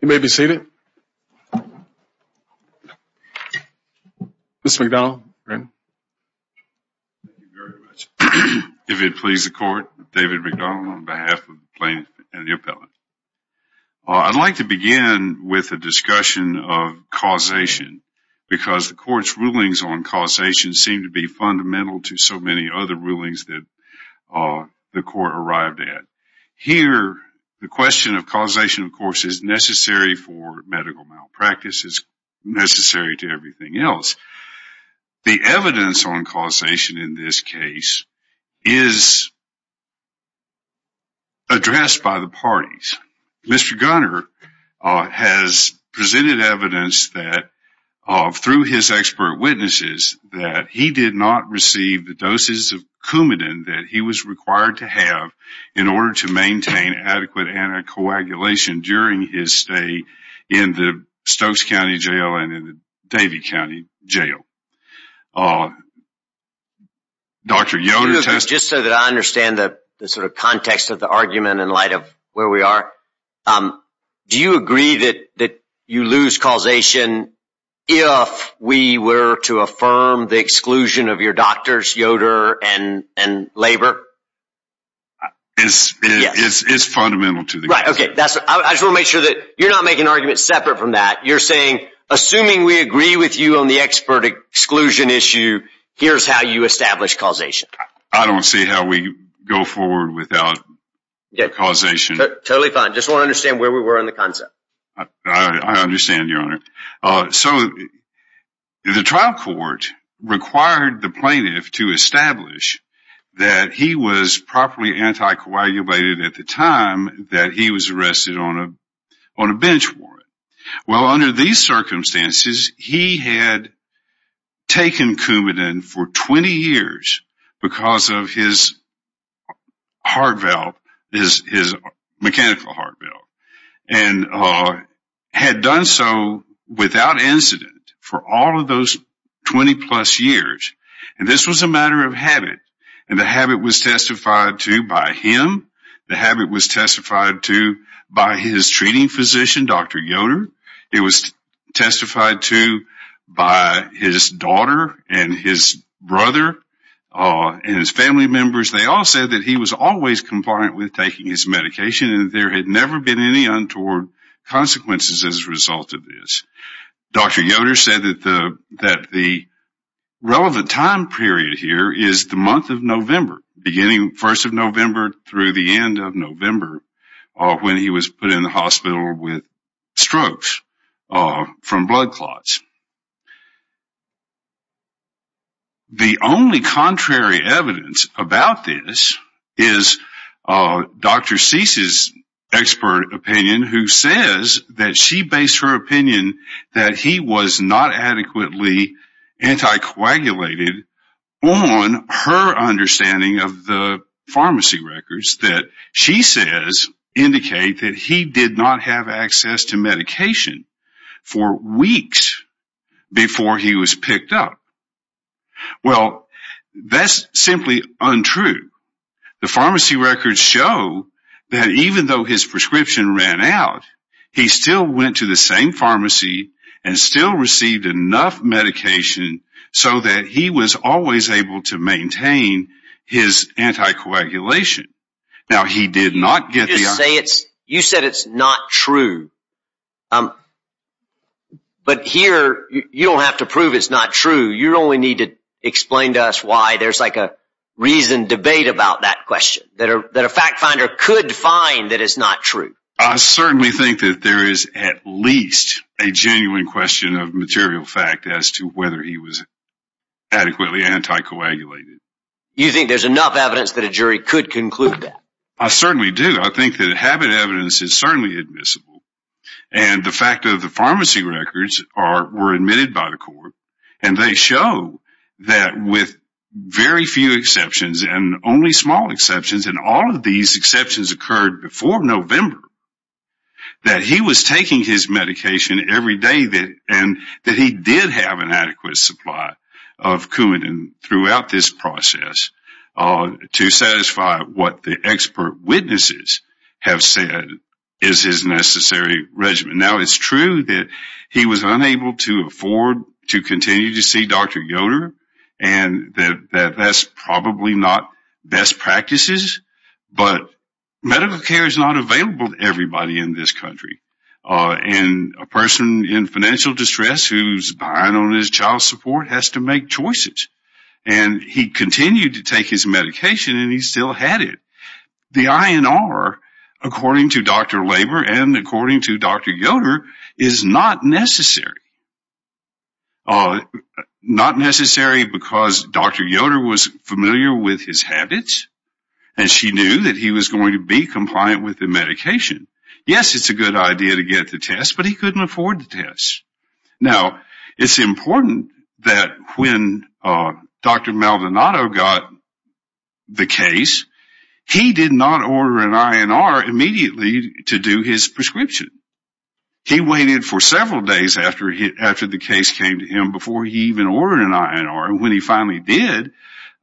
You may be seated. Mr. McDonnell. If it pleases the court, David McDonnell on behalf of the plaintiff and the appellate. I'd like to begin with a discussion of causation because the court's rulings on causation seem to be fundamental to so many other rulings that the court arrived at. Here, the question of causation, of course, is necessary for medical malpractice, is necessary to everything else. The evidence on causation in this case is addressed by the parties. Mr. Gunter has presented evidence that through his expert witnesses that he did not receive the doses of Coumadin that he was required to have in order to maintain adequate anticoagulation during his stay in the Stokes County Jail and in the Davie County Jail. Dr. Yoder. Just so that I understand the context of the argument in light of where we are. Do you agree that you lose causation if we were to affirm the exclusion of your doctors, Yoder, and labor? It's fundamental to the case. I just want to make sure that you're not making an argument separate from that. You're saying, assuming we agree with you on the expert exclusion issue, here's how you establish causation. I don't see how we go forward without causation. Totally fine. Just want to understand where we were in the concept. I understand, Your Honor. The trial court required the plaintiff to establish that he was properly anticoagulated at the time that he was arrested on a bench warrant. Under these circumstances, he had taken Coumadin for 20 years because of his mechanical heart valve. He had done so without incident for all of those 20 plus years. This was a matter of habit. The habit was testified to by him. The habit was testified to by his treating physician, Dr. Yoder. It was testified to by his daughter and his brother and his family members. They all said that he was always compliant with taking his medication and there had never been any untoward consequences as a result of this. Dr. Yoder said that the relevant time period here is the month of November. Beginning 1st of November through the end of November when he was put in the hospital with strokes from blood clots. The only contrary evidence about this is Dr. Cease's expert opinion who says that she based her opinion that he was not adequately anticoagulated on her understanding of the pharmacy records. The pharmacy records that she says indicate that he did not have access to medication for weeks before he was picked up. Well, that is simply untrue. The pharmacy records show that even though his prescription ran out, he still went to the same pharmacy and still received enough medication so that he was always able to maintain his anticoagulation. Now, he did not get the... You said it's not true. But here, you don't have to prove it's not true. You only need to explain to us why there's like a reasoned debate about that question. That a fact finder could find that it's not true. I certainly think that there is at least a genuine question of material fact as to whether he was adequately anticoagulated. You think there's enough evidence that a jury could conclude that? I certainly do. I think that habit evidence is certainly admissible. And the fact of the pharmacy records were admitted by the court and they show that with very few exceptions and only small exceptions, and all of these exceptions occurred before November, that he was taking his medication every day and that he did have an adequate supply of Coumadin throughout this process to satisfy what the expert witnesses have said is his necessary regimen. Now, it's true that he was unable to afford to continue to see Dr. Goder and that that's probably not best practices. But medical care is not available to everybody in this country. And a person in financial distress who's behind on his child support has to make choices. And he continued to take his medication and he still had it. The INR, according to Dr. Labor and according to Dr. Goder, is not necessary. Not necessary because Dr. Goder was familiar with his habits and she knew that he was going to be compliant with the medication. Yes, it's a good idea to get the test, but he couldn't afford the test. Now, it's important that when Dr. Maldonado got the case, he did not order an INR immediately to do his prescription. He waited for several days after the case came to him before he even ordered an INR. And when he finally did,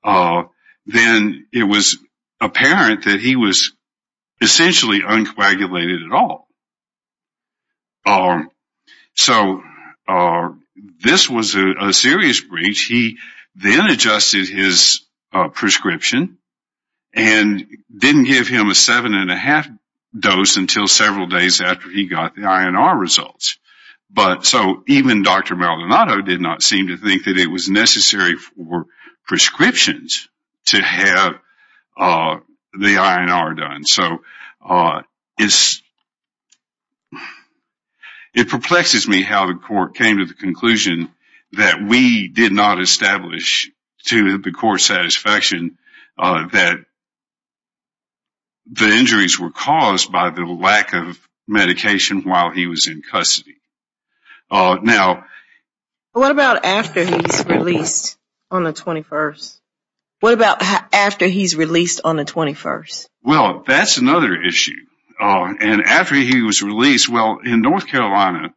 then it was apparent that he was essentially uncoagulated at all. So this was a serious breach. He then adjusted his prescription and didn't give him a seven and a half dose until several days after he got the INR results. But so even Dr. Maldonado did not seem to think that it was necessary for prescriptions to have the INR done. So it perplexes me how the court came to the conclusion that we did not establish to the court's satisfaction that the injuries were caused by the lack of medication while he was in custody. What about after he's released on the 21st? That's another issue. And after he was released, well, in North Carolina,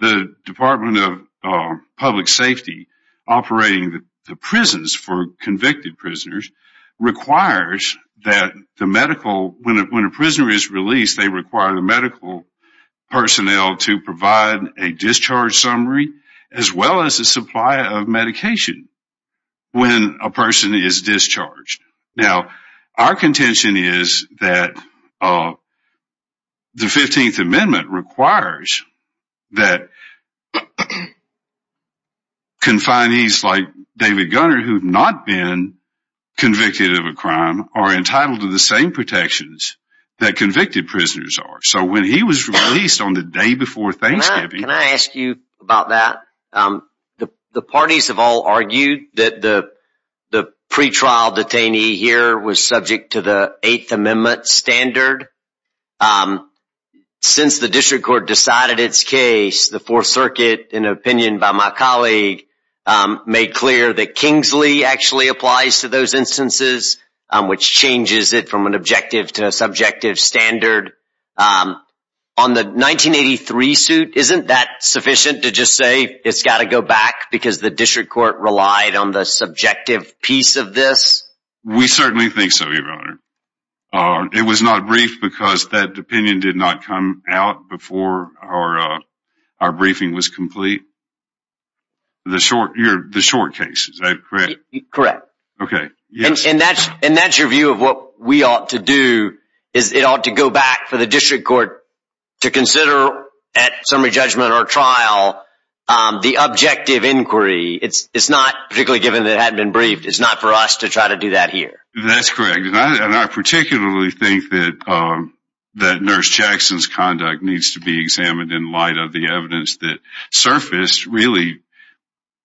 the Department of Public Safety operating the prisons for convicted prisoners requires that when a prisoner is released, they require the medical personnel to provide a discharge summary as well as a supply of medication when a person is discharged. Now, our contention is that the 15th Amendment requires that confinees like David Gunner who have not been convicted of a crime are entitled to the same protections that convicted prisoners are. So when he was released on the day before Thanksgiving... Can I ask you about that? The parties have all argued that the pretrial detainee here was subject to the Eighth Amendment standard. Since the district court decided its case, the Fourth Circuit, in an opinion by my colleague, made clear that Kingsley actually applies to those instances, which changes it from an objective to a subjective standard. On the 1983 suit, isn't that sufficient to just say it's got to go back because the district court relied on the subjective piece of this? We certainly think so, Your Honor. It was not briefed because that opinion did not come out before our briefing was complete. The short case, is that correct? Correct. And that's your view of what we ought to do, is it ought to go back for the district court to consider at summary judgment or trial the objective inquiry. It's not, particularly given that it hadn't been briefed, it's not for us to try to do that here. That's correct. And I particularly think that Nurse Jackson's conduct needs to be examined in light of the evidence that surfaced really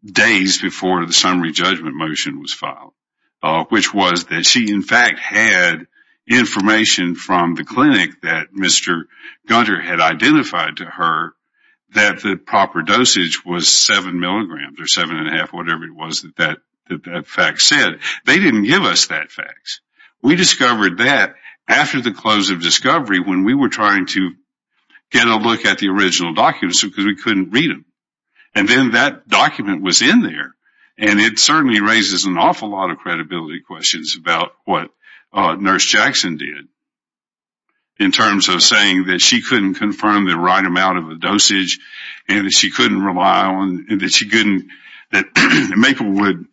days before the summary judgment motion was filed. Which was that she, in fact, had information from the clinic that Mr. Gunter had identified to her that the proper dosage was seven milligrams or seven and a half, whatever it was that that fact said. They didn't give us that fact. We discovered that after the close of discovery when we were trying to get a look at the original documents because we couldn't read them. And then that document was in there. And it certainly raises an awful lot of credibility questions about what Nurse Jackson did. In terms of saying that she couldn't confirm the right amount of the dosage and that she couldn't rely on, that she couldn't, that Maplewood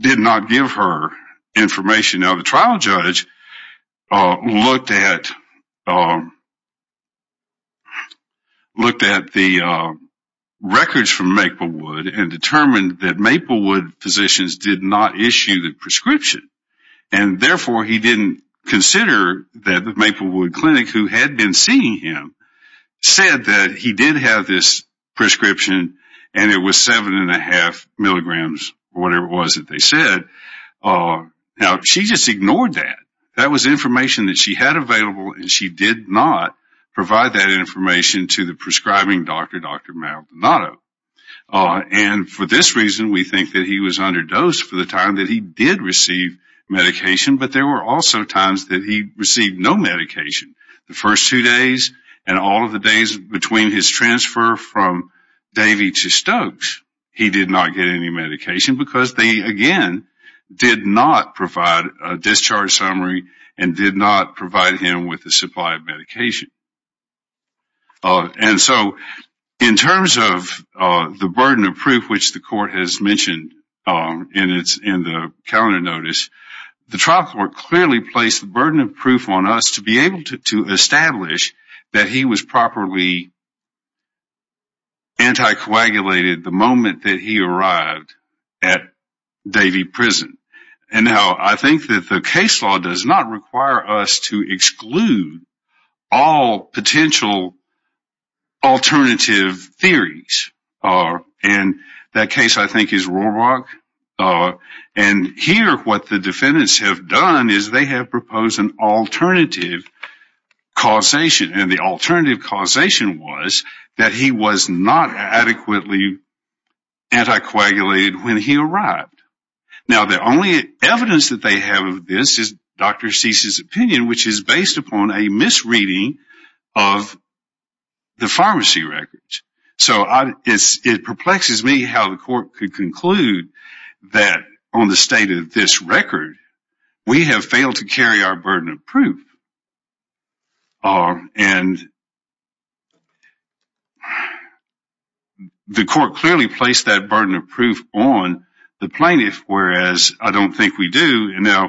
did not give her information. Now the trial judge looked at the records from Maplewood and determined that Maplewood physicians did not issue the prescription. And therefore he didn't consider that the Maplewood clinic who had been seeing him said that he did have this prescription and it was seven and a half milligrams or whatever it was that they said. Now she just ignored that. That was information that she had available and she did not provide that information to the prescribing doctor, Dr. Maldonado. And for this reason we think that he was underdosed for the time that he did receive medication. But there were also times that he received no medication. The first two days and all of the days between his transfer from Davie to Stokes, he did not get any medication. Because they again did not provide a discharge summary and did not provide him with the supply of medication. And so in terms of the burden of proof which the court has mentioned in the calendar notice, the trial court clearly placed the burden of proof on us to be able to establish that he was properly anticoagulated the moment that he arrived at Davie Prison. And now I think that the case law does not require us to exclude all potential alternative theories. And that case I think is Rohrbach. And here what the defendants have done is they have proposed an alternative causation. And the alternative causation was that he was not adequately anticoagulated when he arrived. Now the only evidence that they have of this is Dr. Cease's opinion which is based upon a misreading of the pharmacy records. So it perplexes me how the court could conclude that on the state of this record, we have failed to carry our burden of proof. And the court clearly placed that burden of proof on the plaintiff whereas I don't think we do. Now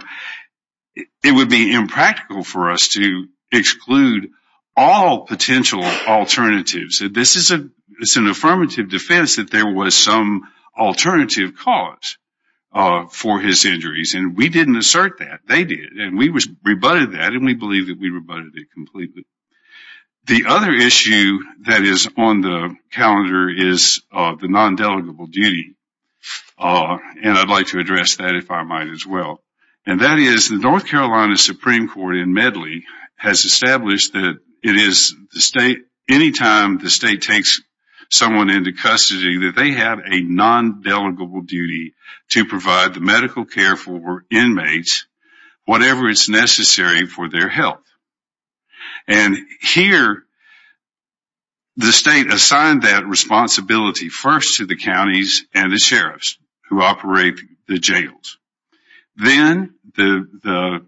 it would be impractical for us to exclude all potential alternatives. This is an affirmative defense that there was some alternative cause for his injuries. And we didn't assert that, they did. And we rebutted that and we believe that we rebutted it completely. The other issue that is on the calendar is the non-delegable duty. And I would like to address that if I might as well. And that is the North Carolina Supreme Court in Medley has established that it is the state, anytime the state takes someone into custody that they have a non-delegable duty to provide the medical care for inmates, whatever is necessary for their health. And here the state assigned that responsibility first to the counties and the sheriffs who operate the jails. Then the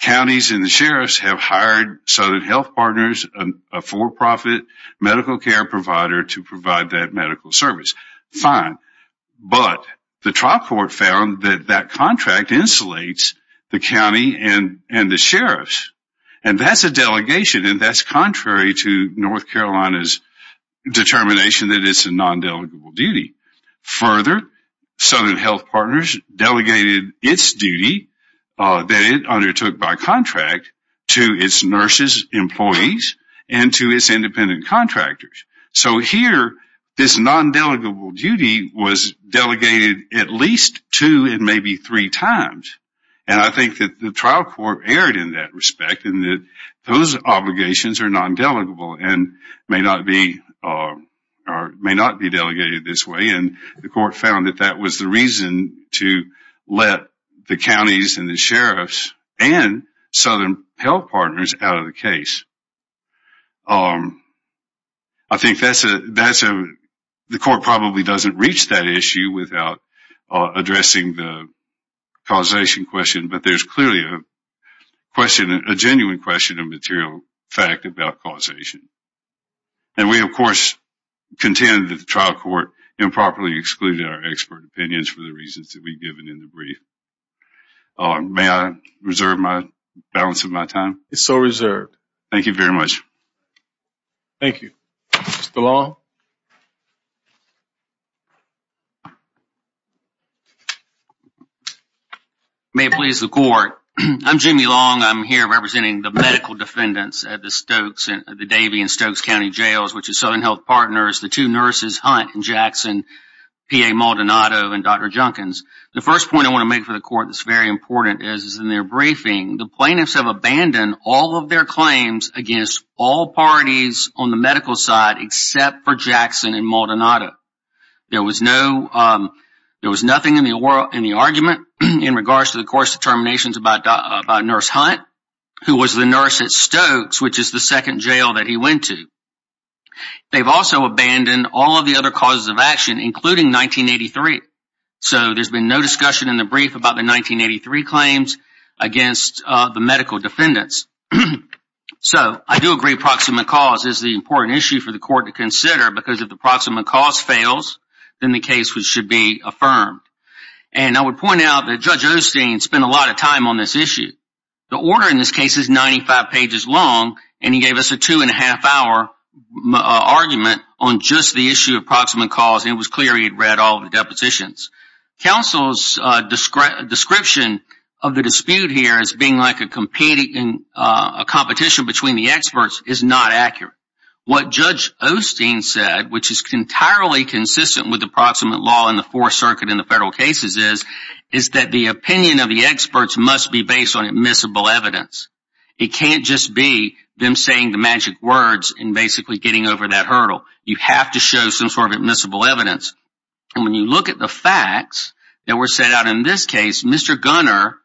counties and the sheriffs have hired Southern Health Partners, a for-profit medical care provider to provide that medical service. Fine, but the trial court found that that contract insulates the county and the sheriffs. And that's a delegation and that's contrary to North Carolina's determination that it's a non-delegable duty. Further, Southern Health Partners delegated its duty that it undertook by contract to its nurses, employees, and to its independent contractors. So here this non-delegable duty was delegated at least two and maybe three times. And I think that the trial court erred in that respect and that those obligations are non-delegable and may not be delegated this way. And the court found that that was the reason to let the counties and the sheriffs and Southern Health Partners out of the case. I think the court probably doesn't reach that issue without addressing the causation question, but there's clearly a genuine question of material fact about causation. And we of course contend that the trial court improperly excluded our expert opinions for the reasons that we've given in the brief. May I reserve my balance of my time? It's all reserved. Thank you very much. Thank you. Mr. Long? May it please the court. I'm Jimmy Long. I'm here representing the medical defendants at the Davian-Stokes County Jails, which is Southern Health Partners, the two nurses Hunt and Jackson, P.A. Maldonado and Dr. Junkins. The first point I want to make for the court that's very important is in their briefing, the plaintiffs have abandoned all of their claims against all parties on the medical side except for Jackson and Maldonado. There was nothing in the argument in regards to the court's determinations about Nurse Hunt, who was the nurse at Stokes, which is the second jail that he went to. They've also abandoned all of the other causes of action, including 1983. So there's been no discussion in the brief about the 1983 claims against the medical defendants. So I do agree approximate cause is the important issue for the court to consider, because if the approximate cause fails, then the case should be affirmed. And I would point out that Judge Osteen spent a lot of time on this issue. The order in this case is 95 pages long, and he gave us a two and a half hour argument on just the issue of approximate cause, and it was clear he had read all of the depositions. Counsel's description of the dispute here as being like a competition between the experts is not accurate. What Judge Osteen said, which is entirely consistent with the approximate law in the Fourth Circuit in the federal cases, is that the opinion of the experts must be based on admissible evidence. It can't just be them saying the magic words and basically getting over that hurdle. You have to show some sort of admissible evidence. And when you look at the facts that were set out in this case, Mr. Gunner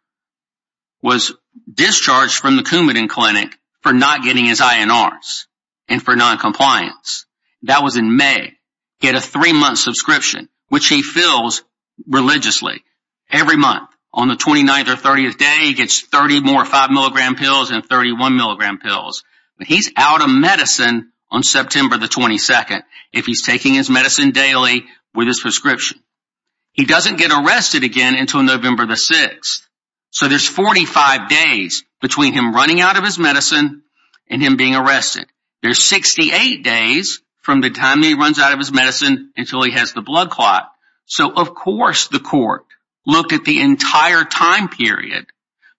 was discharged from the Coumadin Clinic for not getting his INRs and for noncompliance. That was in May. He had a three-month subscription, which he fills religiously every month. On the 29th or 30th day, he gets 30 more 5-milligram pills and 31-milligram pills. He's out of medicine on September 22nd if he's taking his medicine daily with his prescription. He doesn't get arrested again until November 6th. So there's 45 days between him running out of his medicine and him being arrested. There's 68 days from the time he runs out of his medicine until he has the blood clot. So of course the court looked at the entire time period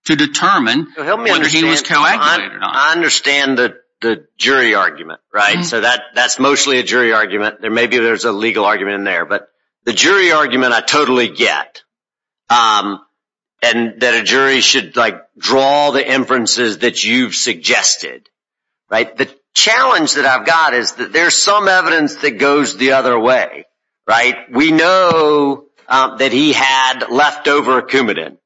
to determine whether he was coagulated or not. I understand the jury argument. That's mostly a jury argument. Maybe there's a legal argument in there. But the jury argument I totally get. That a jury should draw the inferences that you've suggested. The challenge that I've got is that there's some evidence that goes the other way. We know that he had leftover Coumadin.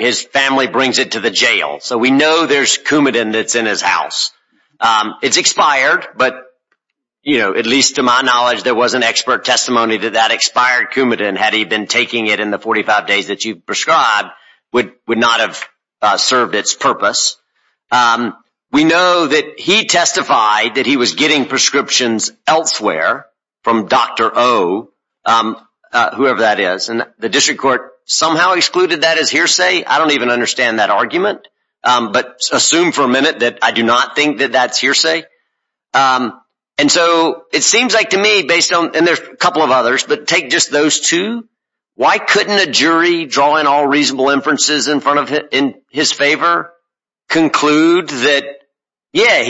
His family brings it to the jail. So we know there's Coumadin that's in his house. It's expired, but at least to my knowledge, there was an expert testimony to that expired Coumadin. Had he been taking it in the 45 days that you've prescribed, it would not have served its purpose. We know that he testified that he was getting prescriptions elsewhere from Dr. O, whoever that is. And the district court somehow excluded that as hearsay. I don't even understand that argument. But assume for a minute that I do not think that that's hearsay. And so it seems like to me based on, and there's a couple of others, but take just those two. Why couldn't a jury draw in all reasonable inferences in his favor conclude that, yeah,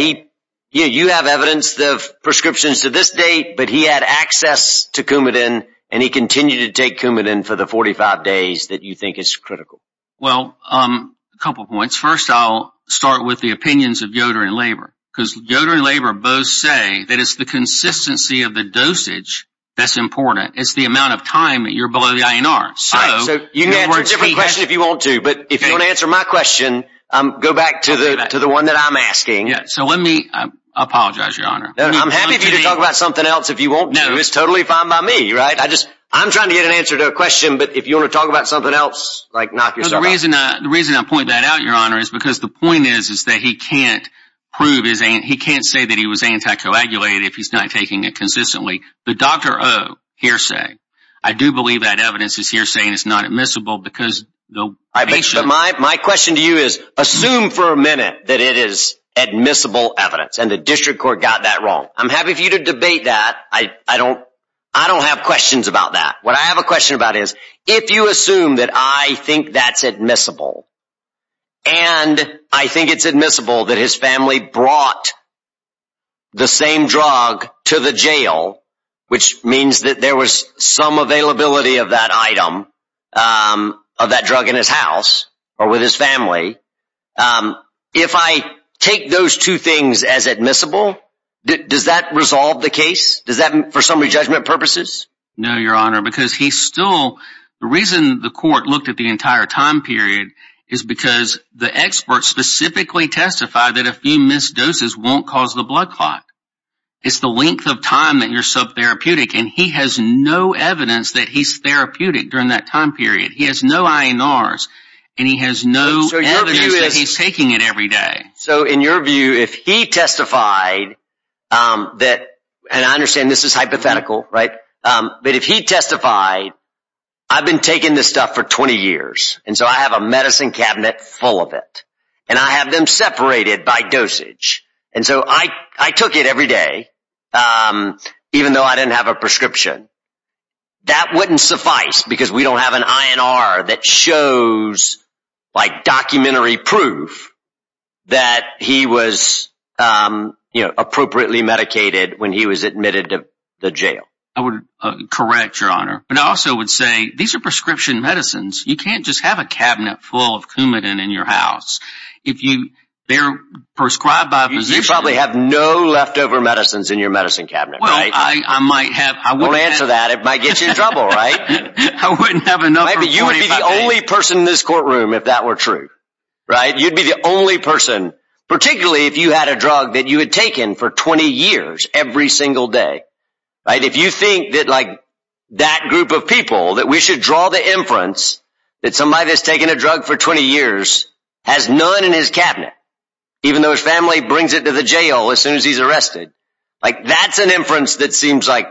you have evidence of prescriptions to this date, but he had access to Coumadin, and he continued to take Coumadin for the 45 days that you think is critical? Well, a couple of points. First, I'll start with the opinions of Yoder and Labor. Because Yoder and Labor both say that it's the consistency of the dosage that's important. It's the amount of time that you're below the INR. You can answer a different question if you want to. But if you want to answer my question, go back to the one that I'm asking. So let me apologize, Your Honor. I'm happy for you to talk about something else if you want to. It's totally fine by me, right? I'm trying to get an answer to a question, but if you want to talk about something else, knock yourself out. The reason I point that out, Your Honor, is because the point is that he can't prove, he can't say that he was anti-coagulated if he's not taking it consistently. But Dr. O, hearsay. I do believe that evidence is hearsay and it's not admissible. But my question to you is, assume for a minute that it is admissible evidence, and the District Court got that wrong. I'm happy for you to debate that. I don't have questions about that. What I have a question about is, if you assume that I think that's admissible, and I think it's admissible that his family brought the same drug to the jail, which means that there was some availability of that item, of that drug in his house or with his family, if I take those two things as admissible, does that resolve the case? Does that, for summary judgment purposes? No, Your Honor, because he still, the reason the court looked at the entire time period is because the experts specifically testified that a few missed doses won't cause the blood clot. It's the length of time that you're sub-therapeutic, and he has no evidence that he's therapeutic during that time period. He has no INRs, and he has no evidence that he's taking it every day. So in your view, if he testified that, and I understand this is hypothetical, right? But if he testified, I've been taking this stuff for 20 years, and so I have a medicine cabinet full of it. And I have them separated by dosage. And so I took it every day, even though I didn't have a prescription. That wouldn't suffice because we don't have an INR that shows, like, documentary proof that he was, you know, appropriately medicated when he was admitted to the jail. I would correct, Your Honor. But I also would say, these are prescription medicines. You can't just have a cabinet full of Coumadin in your house. If you, they're prescribed by a physician. You probably have no leftover medicines in your medicine cabinet, right? Well, I might have. I won't answer that. It might get you in trouble, right? I wouldn't have enough. You'd be the only person in this courtroom if that were true, right? You'd be the only person, particularly if you had a drug that you had taken for 20 years, every single day, right? If you think that, like, that group of people, that we should draw the inference that somebody that's taken a drug for 20 years has none in his cabinet, even though his family brings it to the jail as soon as he's arrested. Like, that's an inference that seems, like,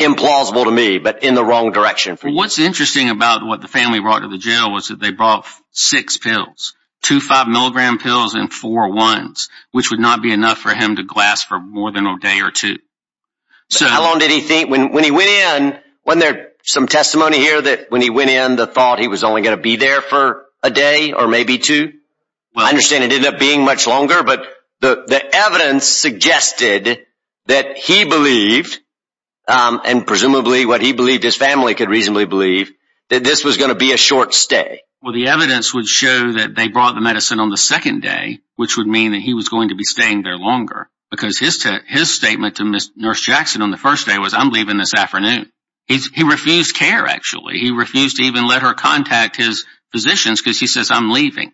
implausible to me, but in the wrong direction for you. Well, what's interesting about what the family brought to the jail was that they brought six pills. Two five milligram pills and four ones, which would not be enough for him to glass for more than a day or two. How long did he think, when he went in, wasn't there some testimony here that when he went in, the thought he was only going to be there for a day or maybe two? I understand it ended up being much longer, but the evidence suggested that he believed, and presumably what he believed his family could reasonably believe, that this was going to be a short stay. Well, the evidence would show that they brought the medicine on the second day, which would mean that he was going to be staying there longer, because his statement to Nurse Jackson on the first day was, I'm leaving this afternoon. He refused care, actually. He refused to even let her contact his physicians, because he says, I'm leaving.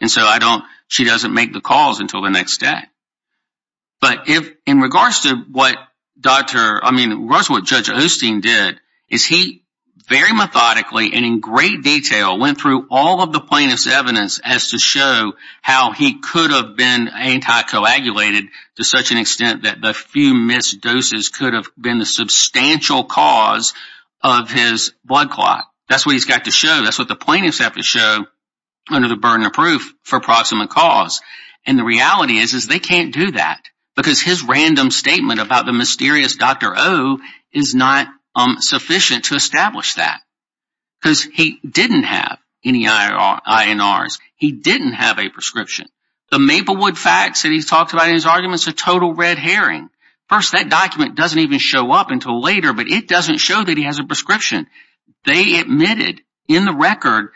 And so I don't, she doesn't make the calls until the next day. But if, in regards to what Dr., I mean, in regards to what Judge Osteen did, is he very methodically and in great detail went through all of the plaintiff's evidence as to show how he could have been anti-coagulated to such an extent that the few missed doses could have been the substantial cause of his blood clot. That's what he's got to show. That's what the plaintiffs have to show under the burden of proof for proximate cause. And the reality is, is they can't do that. Because his random statement about the mysterious Dr. O is not sufficient to establish that. Because he didn't have any INRs. He didn't have a prescription. The Maplewood facts that he's talked about in his argument is a total red herring. First, that document doesn't even show up until later, but it doesn't show that he has a prescription. They admitted in the record,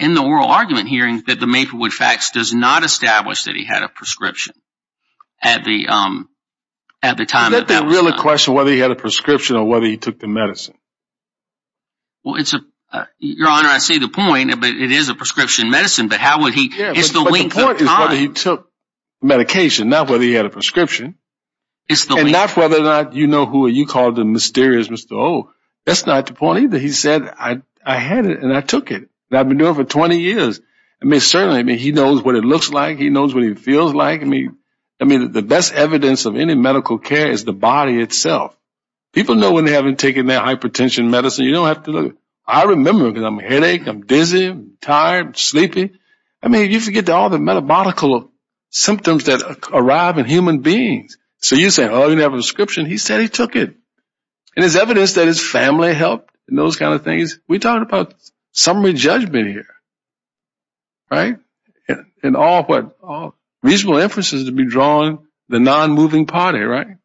in the oral argument hearing, that the Maplewood facts does not establish that he had a prescription at the time that that was done. Is that the real question, whether he had a prescription or whether he took the medicine? Your Honor, I see the point, but it is a prescription medicine. It's the length of time. But the point is whether he took medication, not whether he had a prescription. And not whether or not you know who you called the mysterious Mr. O. That's not the point either. He said, I had it and I took it. And I've been doing it for 20 years. I mean, certainly, he knows what it looks like. He knows what it feels like. I mean, the best evidence of any medical care is the body itself. People know when they haven't taken their hypertension medicine. You don't have to look. I remember because I'm a headache, I'm dizzy, I'm tired, I'm sleepy. I mean, you forget all the metabolical symptoms that arrive in human beings. So you say, oh, you didn't have a prescription. He said he took it. And there's evidence that his family helped in those kind of things. We're talking about summary judgment here. And all reasonable inferences to be drawn the non-moving party, right?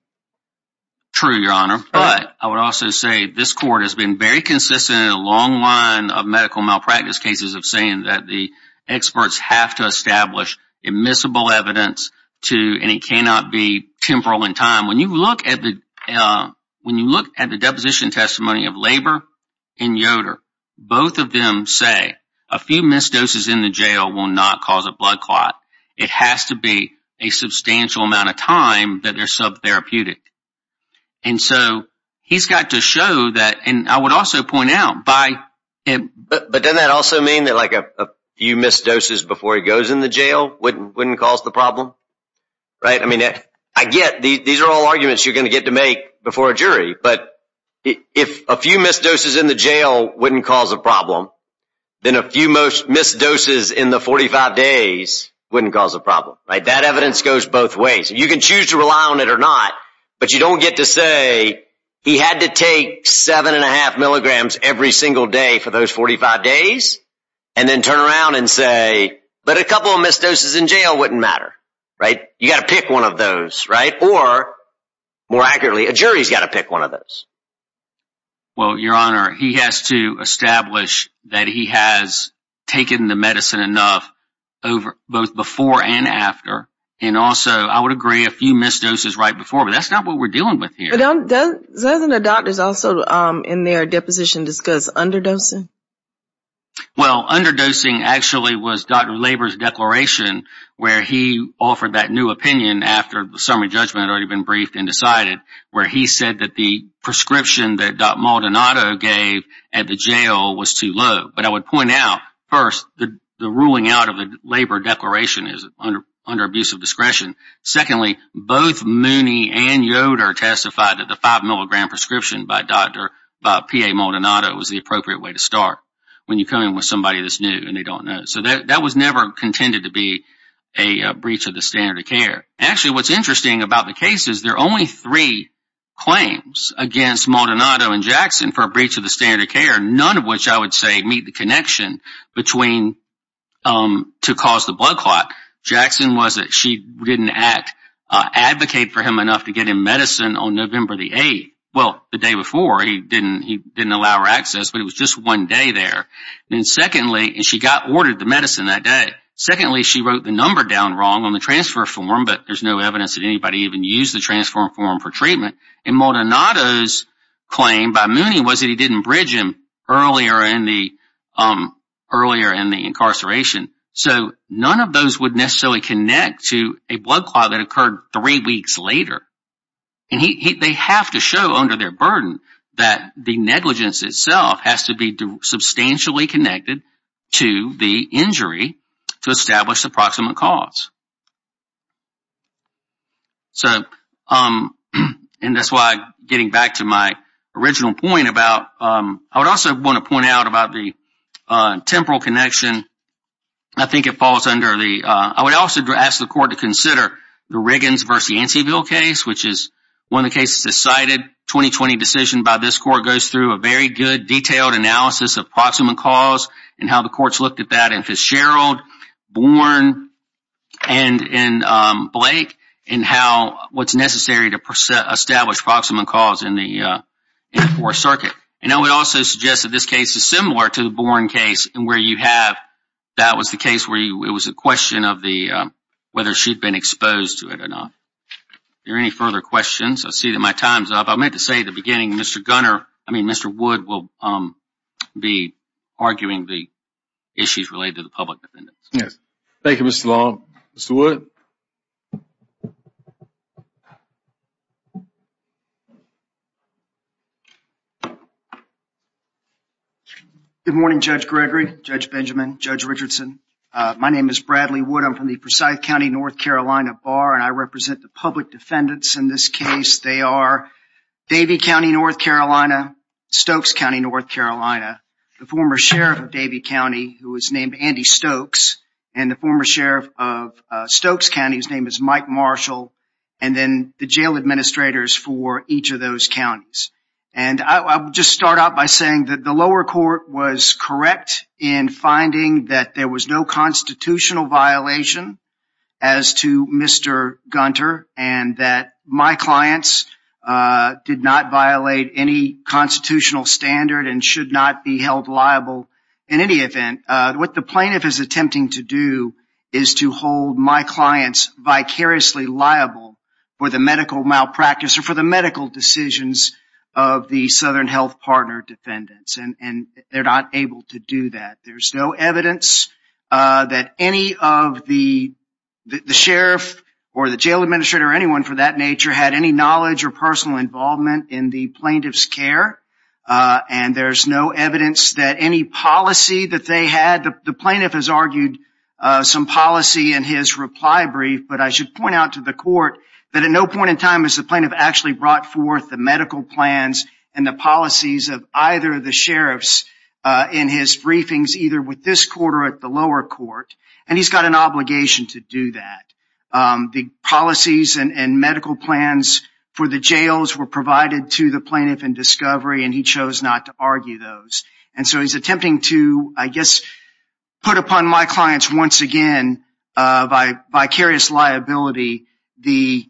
True, Your Honor. But I would also say this court has been very consistent in a long line of medical malpractice cases of saying that the experts have to establish admissible evidence and it cannot be temporal in time. When you look at the deposition testimony of labor in Yoda both of them say a few missed doses in the jail will not cause a blood clot. It has to be a substantial amount of time that they're sub-therapeutic. And so he's got to show that. And I would also point out by... But doesn't that also mean that like a few missed doses before he goes in the jail wouldn't cause the problem? Right? I mean, I get these are all arguments you're going to get to make before a jury. But if a few missed doses in the jail wouldn't cause a problem, then a few missed doses in the 45 days wouldn't cause a problem, right? That evidence goes both ways. You can choose to rely on it or not, but you don't get to say he had to take seven and a half milligrams every single day for those 45 days, and then turn around and say, but a couple of missed doses in jail wouldn't matter, right? You got to pick one of those, right? Or, more accurately, a jury's got to pick one of those. Well, Your Honor, he has to establish that he has taken the medicine enough both before and after. And also, I would agree, a few missed doses right before, but that's not what we're dealing with here. Doesn't the doctors also in their deposition discuss underdosing? Well, underdosing actually was Dr. Labor's declaration where he offered that new opinion after the summary judgment had already been briefed and decided, where he said that the prescription that Dr. Maldonado gave at the jail was too low. But I would point out, first, the ruling out of the Labor declaration is under abusive discretion. Secondly, both Mooney and Yoder testified that the five milligram prescription by Dr. P.A. Maldonado was the appropriate way to start when you come in with somebody that's new and they don't know. So that was never contended to be actually what's interesting about the case is there are only three claims against Maldonado and Jackson for a breach of the standard of care, none of which, I would say, meet the connection between to cause the blood clot. Jackson was that she didn't advocate for him enough to get him medicine on November the 8th. Well, the day before, he didn't allow her access, but it was just one day there. And secondly, she got ordered the medicine that day. There's no evidence that anybody even used the transformed form for treatment. And Maldonado's claim by Mooney was that he didn't bridge him earlier in the incarceration. So none of those would necessarily connect to a blood clot that occurred three weeks later. And they have to show under their burden that the negligence itself has to be substantially connected to the injury to establish the proximate cause. And that's why, getting back to my original point about, I would also want to point out about the temporal connection. I think it falls under the, I would also ask the court to consider the Riggins versus Yanceyville case, which is one of the cases decided 2020 decision by this court goes through a very good detailed analysis of proximate cause and how the courts looked at that in Fitzgerald, Born, and Blake. And how, what's necessary to establish proximate cause in the fourth circuit. And I would also suggest that this case is similar to the Born case where you have, that was the case where it was a question of the, whether she'd been exposed to it or not. Are there any further questions? I see that my time's up. I meant to say at the beginning, Mr. Gunner, I mean Mr. Wood will be arguing the issues related to the public defendants. Yes. Thank you, Mr. Long. Good morning, Judge Gregory, Judge Benjamin, Judge Richardson. My name is Bradley Wood. I'm from the Forsyth County, North Carolina Bar, and I represent the public defendants in this case. They are Davie County, North Carolina, Stokes County, North Carolina. The former sheriff of Davie County who was named Andy Stokes and the former sheriff of Stokes County whose name is Mike Marks and then the jail administrators for each of those counties. And I'll just start out by saying that the lower court was correct in finding that there was no constitutional violation as to Mr. Gunter and that my clients did not violate any constitutional standard and should not be held liable in any event. What the plaintiff is attempting to do is to hold my clients vicariously liable for the medical malpractice or for the medical decisions of the Southern Health Partner defendants. And they're not able to do that. There's no evidence that any of the sheriff or the jail administrator or anyone for that nature had any knowledge or personal involvement in the plaintiff's care. And there's no evidence that any policy that they had, the plaintiff has argued some policy in his reply brief. But I should point out to the court that at no point in time has the plaintiff actually brought forth the medical plans and the policies of either of the sheriffs in his briefings either with this court or at the lower court. And he's got an obligation to do that. The policies and medical plans for the jails were provided to the plaintiff in discovery and he chose not to argue those. And so he's attempting to, I guess, put upon my clients once again by vicarious liability the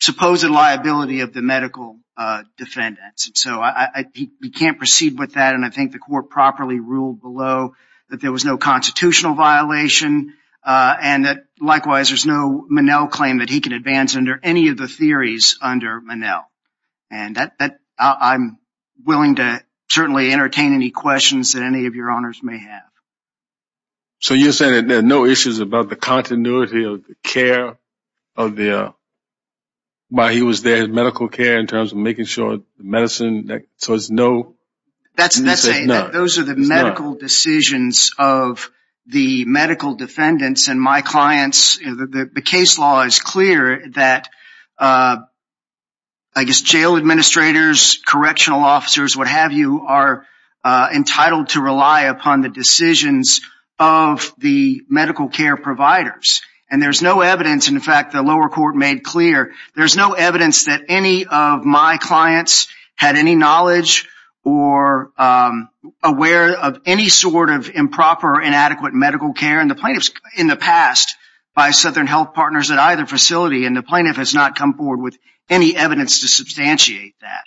supposed liability of the medical defendants. And so he can't proceed with that. And I think the court properly ruled below that there was no constitutional violation and that, likewise, there's no Monell claim that he can advance under any of the theories under Monell. And I'm willing to certainly entertain any questions that any of your honors may have. So you're saying that there are no issues about the continuity of the care of the, while he was there, his medical care in terms of making sure the medicine, so it's no? That's it. Those are the medical decisions of the medical defendants and my clients. The case law is clear that, I guess, jail administrators, correctional officers, what have you, are entitled to rely upon the decisions of the medical care providers. And there's no evidence, in fact, the lower court made clear, there's no evidence that any of my clients had any knowledge or aware of any sort of improper or inadequate medical care. And the plaintiff's, in the past, by Southern Health Partners at either facility and the plaintiff has not come forward with any evidence to substantiate that.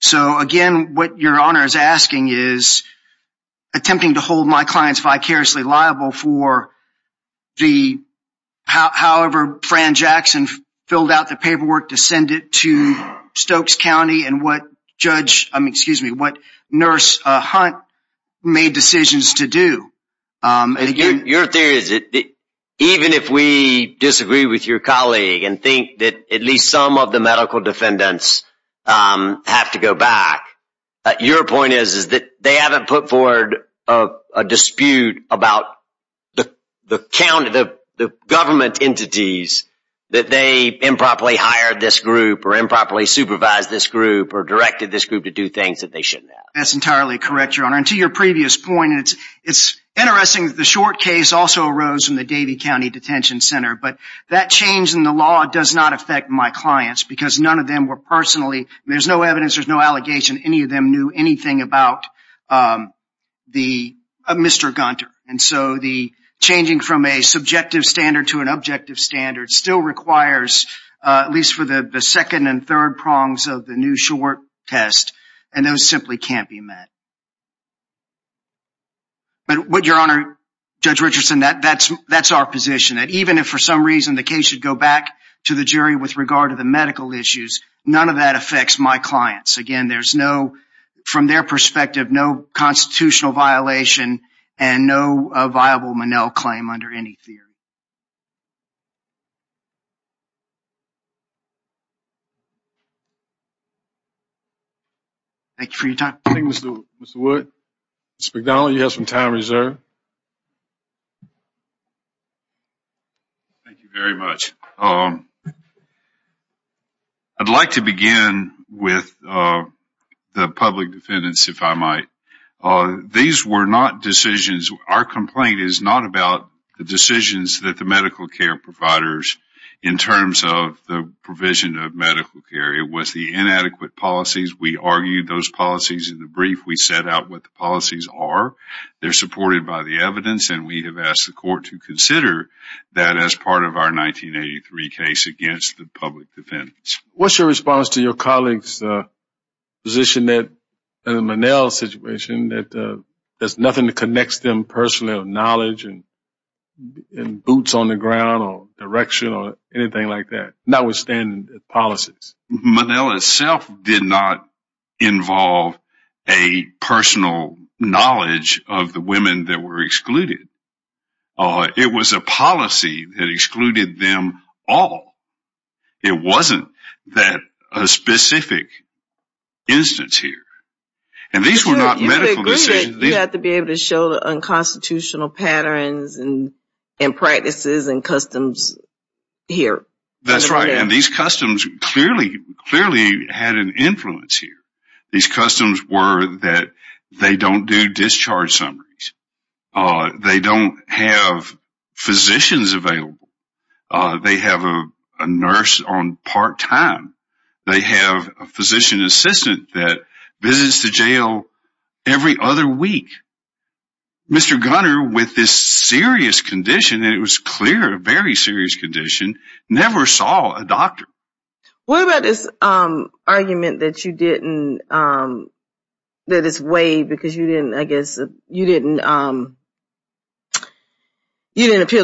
So, again, what Your Honor is asking is attempting to hold my clients vicariously liable for the, however, Fran Jackson filled out the paperwork to send it to Stokes County and what Judge, excuse me, what Nurse Hunt made decisions to do. Your theory is that even if we disagree with your colleague and think that at least some of the medical defendants have to go back, your point is that they haven't put forward a dispute about the government entities that they improperly hired this group or improperly supervised this group or directed this group to do things that they shouldn't have. That's entirely correct, Your Honor. And to your previous point, it's interesting that the short case also arose from the Davie County Detention Center, but that change in the law does not affect my clients because none of them were personally, there's no evidence, there's no allegation, any of them knew anything about the, Mr. Gunter. And so the changing from a subjective standard to an objective standard still requires at least for the second and third prongs of the new short test and those simply can't be met. But Your Honor, Judge Richardson, that's our position that even if for some reason the case should go back to the jury with regard to the medical issues, none of that affects my clients. there's no, from their perspective, no constitutional violation and no viable Monell claim under any theory. Thank you for your time. Thank you, Mr. Wood. Mr. McDonald, you have some time reserved. Thank you very much. I'd like to begin with the public defendants if I might. These were not decisions, our complaint is not about the decisions that the medical care providers in terms of the provision of medical care. It was the inadequate policies. We argued those policies in the brief. We set out what the policies are. They're supported by the evidence and we have asked the court to consider that as part of our 1983 case against the public defendants. What's your response to your colleagues position that in the Monell situation that there's nothing that connects them personally or knowledge and boots on the ground or direction or anything like that, notwithstanding the policies? Monell itself did not involve a personal knowledge of the women that were excluded. It was a policy that excluded them all. It wasn't that specific instance here. These were not medical decisions. You have to be able to show the unconstitutional patterns and practices and customs here. That's right. These customs clearly had an influence here. These customs were that they don't do discharge summaries. They don't have physicians available. They have a nurse on part-time. They have a physician assistant that visits the jail every other week. Mr. Gunner, with this serious condition, and it was clear a very serious condition, never saw a doctor. What about this argument that you didn't that is weighed because you didn't appeal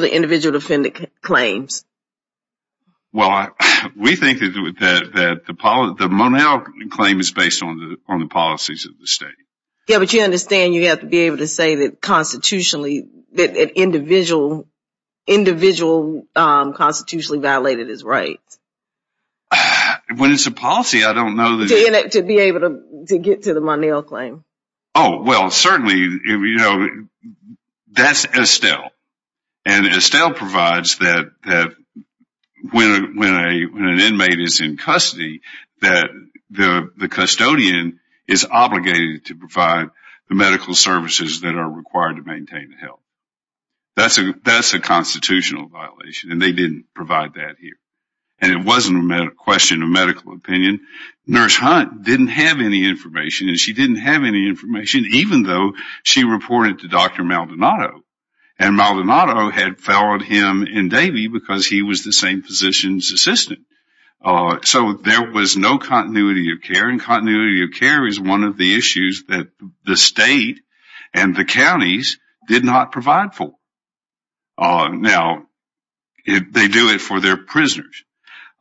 to individual defendant claims? we think that the Monel claim is based on the policies of the state. Yeah, but you you have to be able to say that constitutionally that an individual constitutionally violated his rights. When it's a policy, I don't know that you have to be able to get to the Monel claim. That's Estelle. Estelle provides that when an inmate is in that the custodian is obligated to provide the medical services that are required to maintain health. That's a constitutional violation and they didn't provide that here. And it wasn't a question of medical opinion. Nurse Hunt didn't have any information and she didn't have any information even though she reported to Dr. Maldonado and Maldonado had followed him because he was the same physician's assistant. So there was no continuity of care and continuity of care is one of the issues that the state and the counties did not provide for. Now, they do it for their prisoners.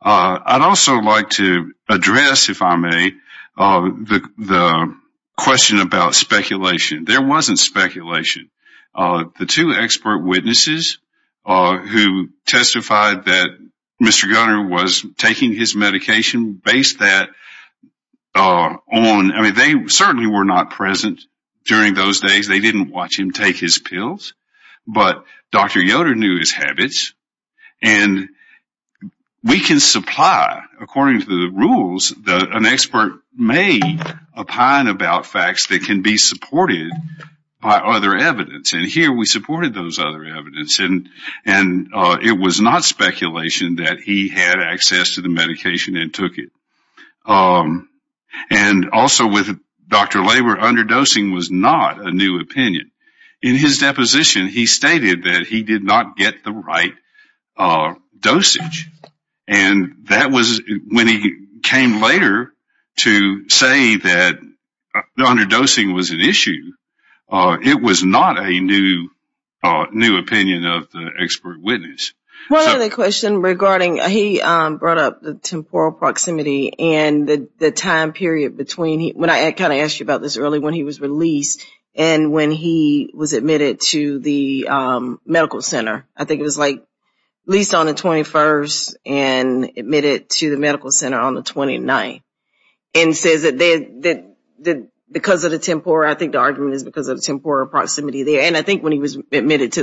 I'd also like to address, if I may, the question about speculation. There wasn't speculation. The two expert witnesses who testified that Mr. Gunner was taking his medication based that on, I mean, they certainly were not present during those days. They didn't watch him take his pills, but Dr. Yoder knew his habits and we can supply according to the rules that an expert may opine about facts that can be supported by other evidence and here we supported those other evidence and it was not speculation that he had access to the medication and took it. Also, with Dr. Labor, underdosing was not a new opinion. In his deposition, he stated that he did not get the right dosage. When he came later to say that underdosing was an issue, it was not a new opinion of the expert witness. One other question regarding, he brought up the temporal proximity and the time period between when he was released and when he was admitted to the medical center. I think it was at least on the 21st and admitted to the medical center. I think when he was admitted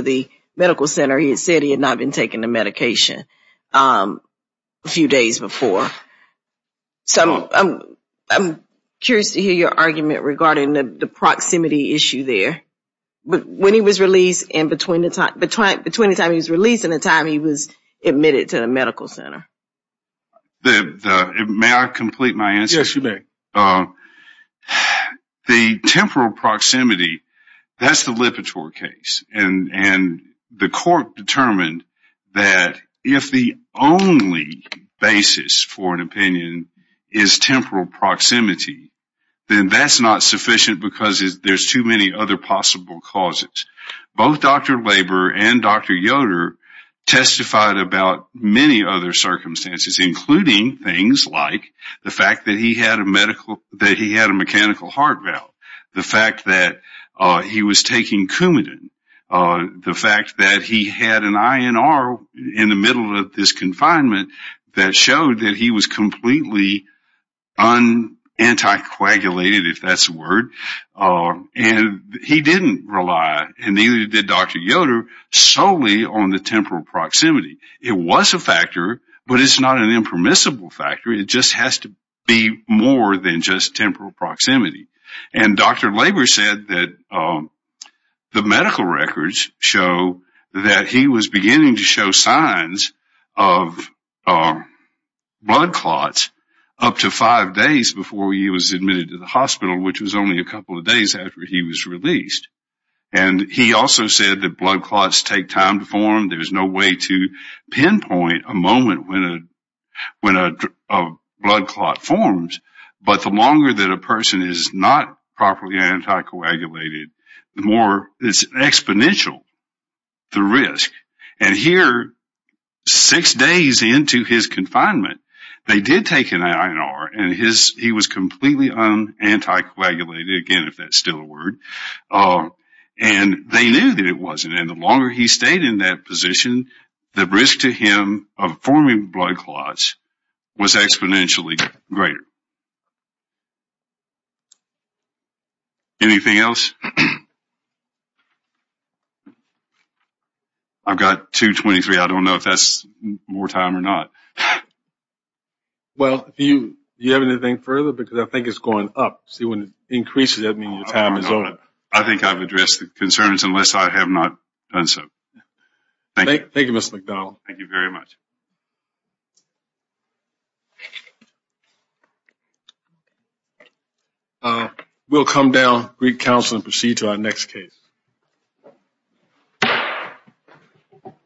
to the medical center, he said he had not been taking the medication a few days before. I'm curious to hear your argument regarding the issue there. Between the time he was released and the time he was admitted to the medical center. May I complete my answer? Yes, you may. The temporal proximity, that's the Lipitor case. The court determined that if the only basis for an opinion is temporal proximity, then that's not sufficient because there are too many other possible causes. Both Dr. Labor and Dr. Yoder testified about many other circumstances, including things like the fact that he had a mechanical heart valve, the fact that he was taking Coumadin, the fact that he had an INR in the middle of this confinement that showed that he was completely unanticoagulated, if that's the word. He didn't rely, and neither did Dr. Yoder, solely on the temporal proximity. It was a factor, but it's not an impermissible factor. It just has to be more than just temporal proximity. Dr. Labor said that the blood took up to five days before he was admitted to the hospital, which was only a couple of days after he was released. He also said that blood clots take time to There's no way to pinpoint a moment when a blood clot forms, but the longer that a person is not properly anticoagulated, the more it's exponential, the risk. And here, six days into his confinement, they did take an INR, and he was completely unanticoagulated, again, if that's still a And they knew that it wasn't, and the risk to him of forming blood clots was exponentially greater. Anything else? I've got two, 23. I don't know if that's more time or not. Well, do you have anything further? Because I think it's going up. See, when it increases, that means your time is over. I think I've addressed the concerns unless I have not done so. Thank you. Mr. McDonald. Thank you very We'll come down, greet counsel, and proceed to our next case.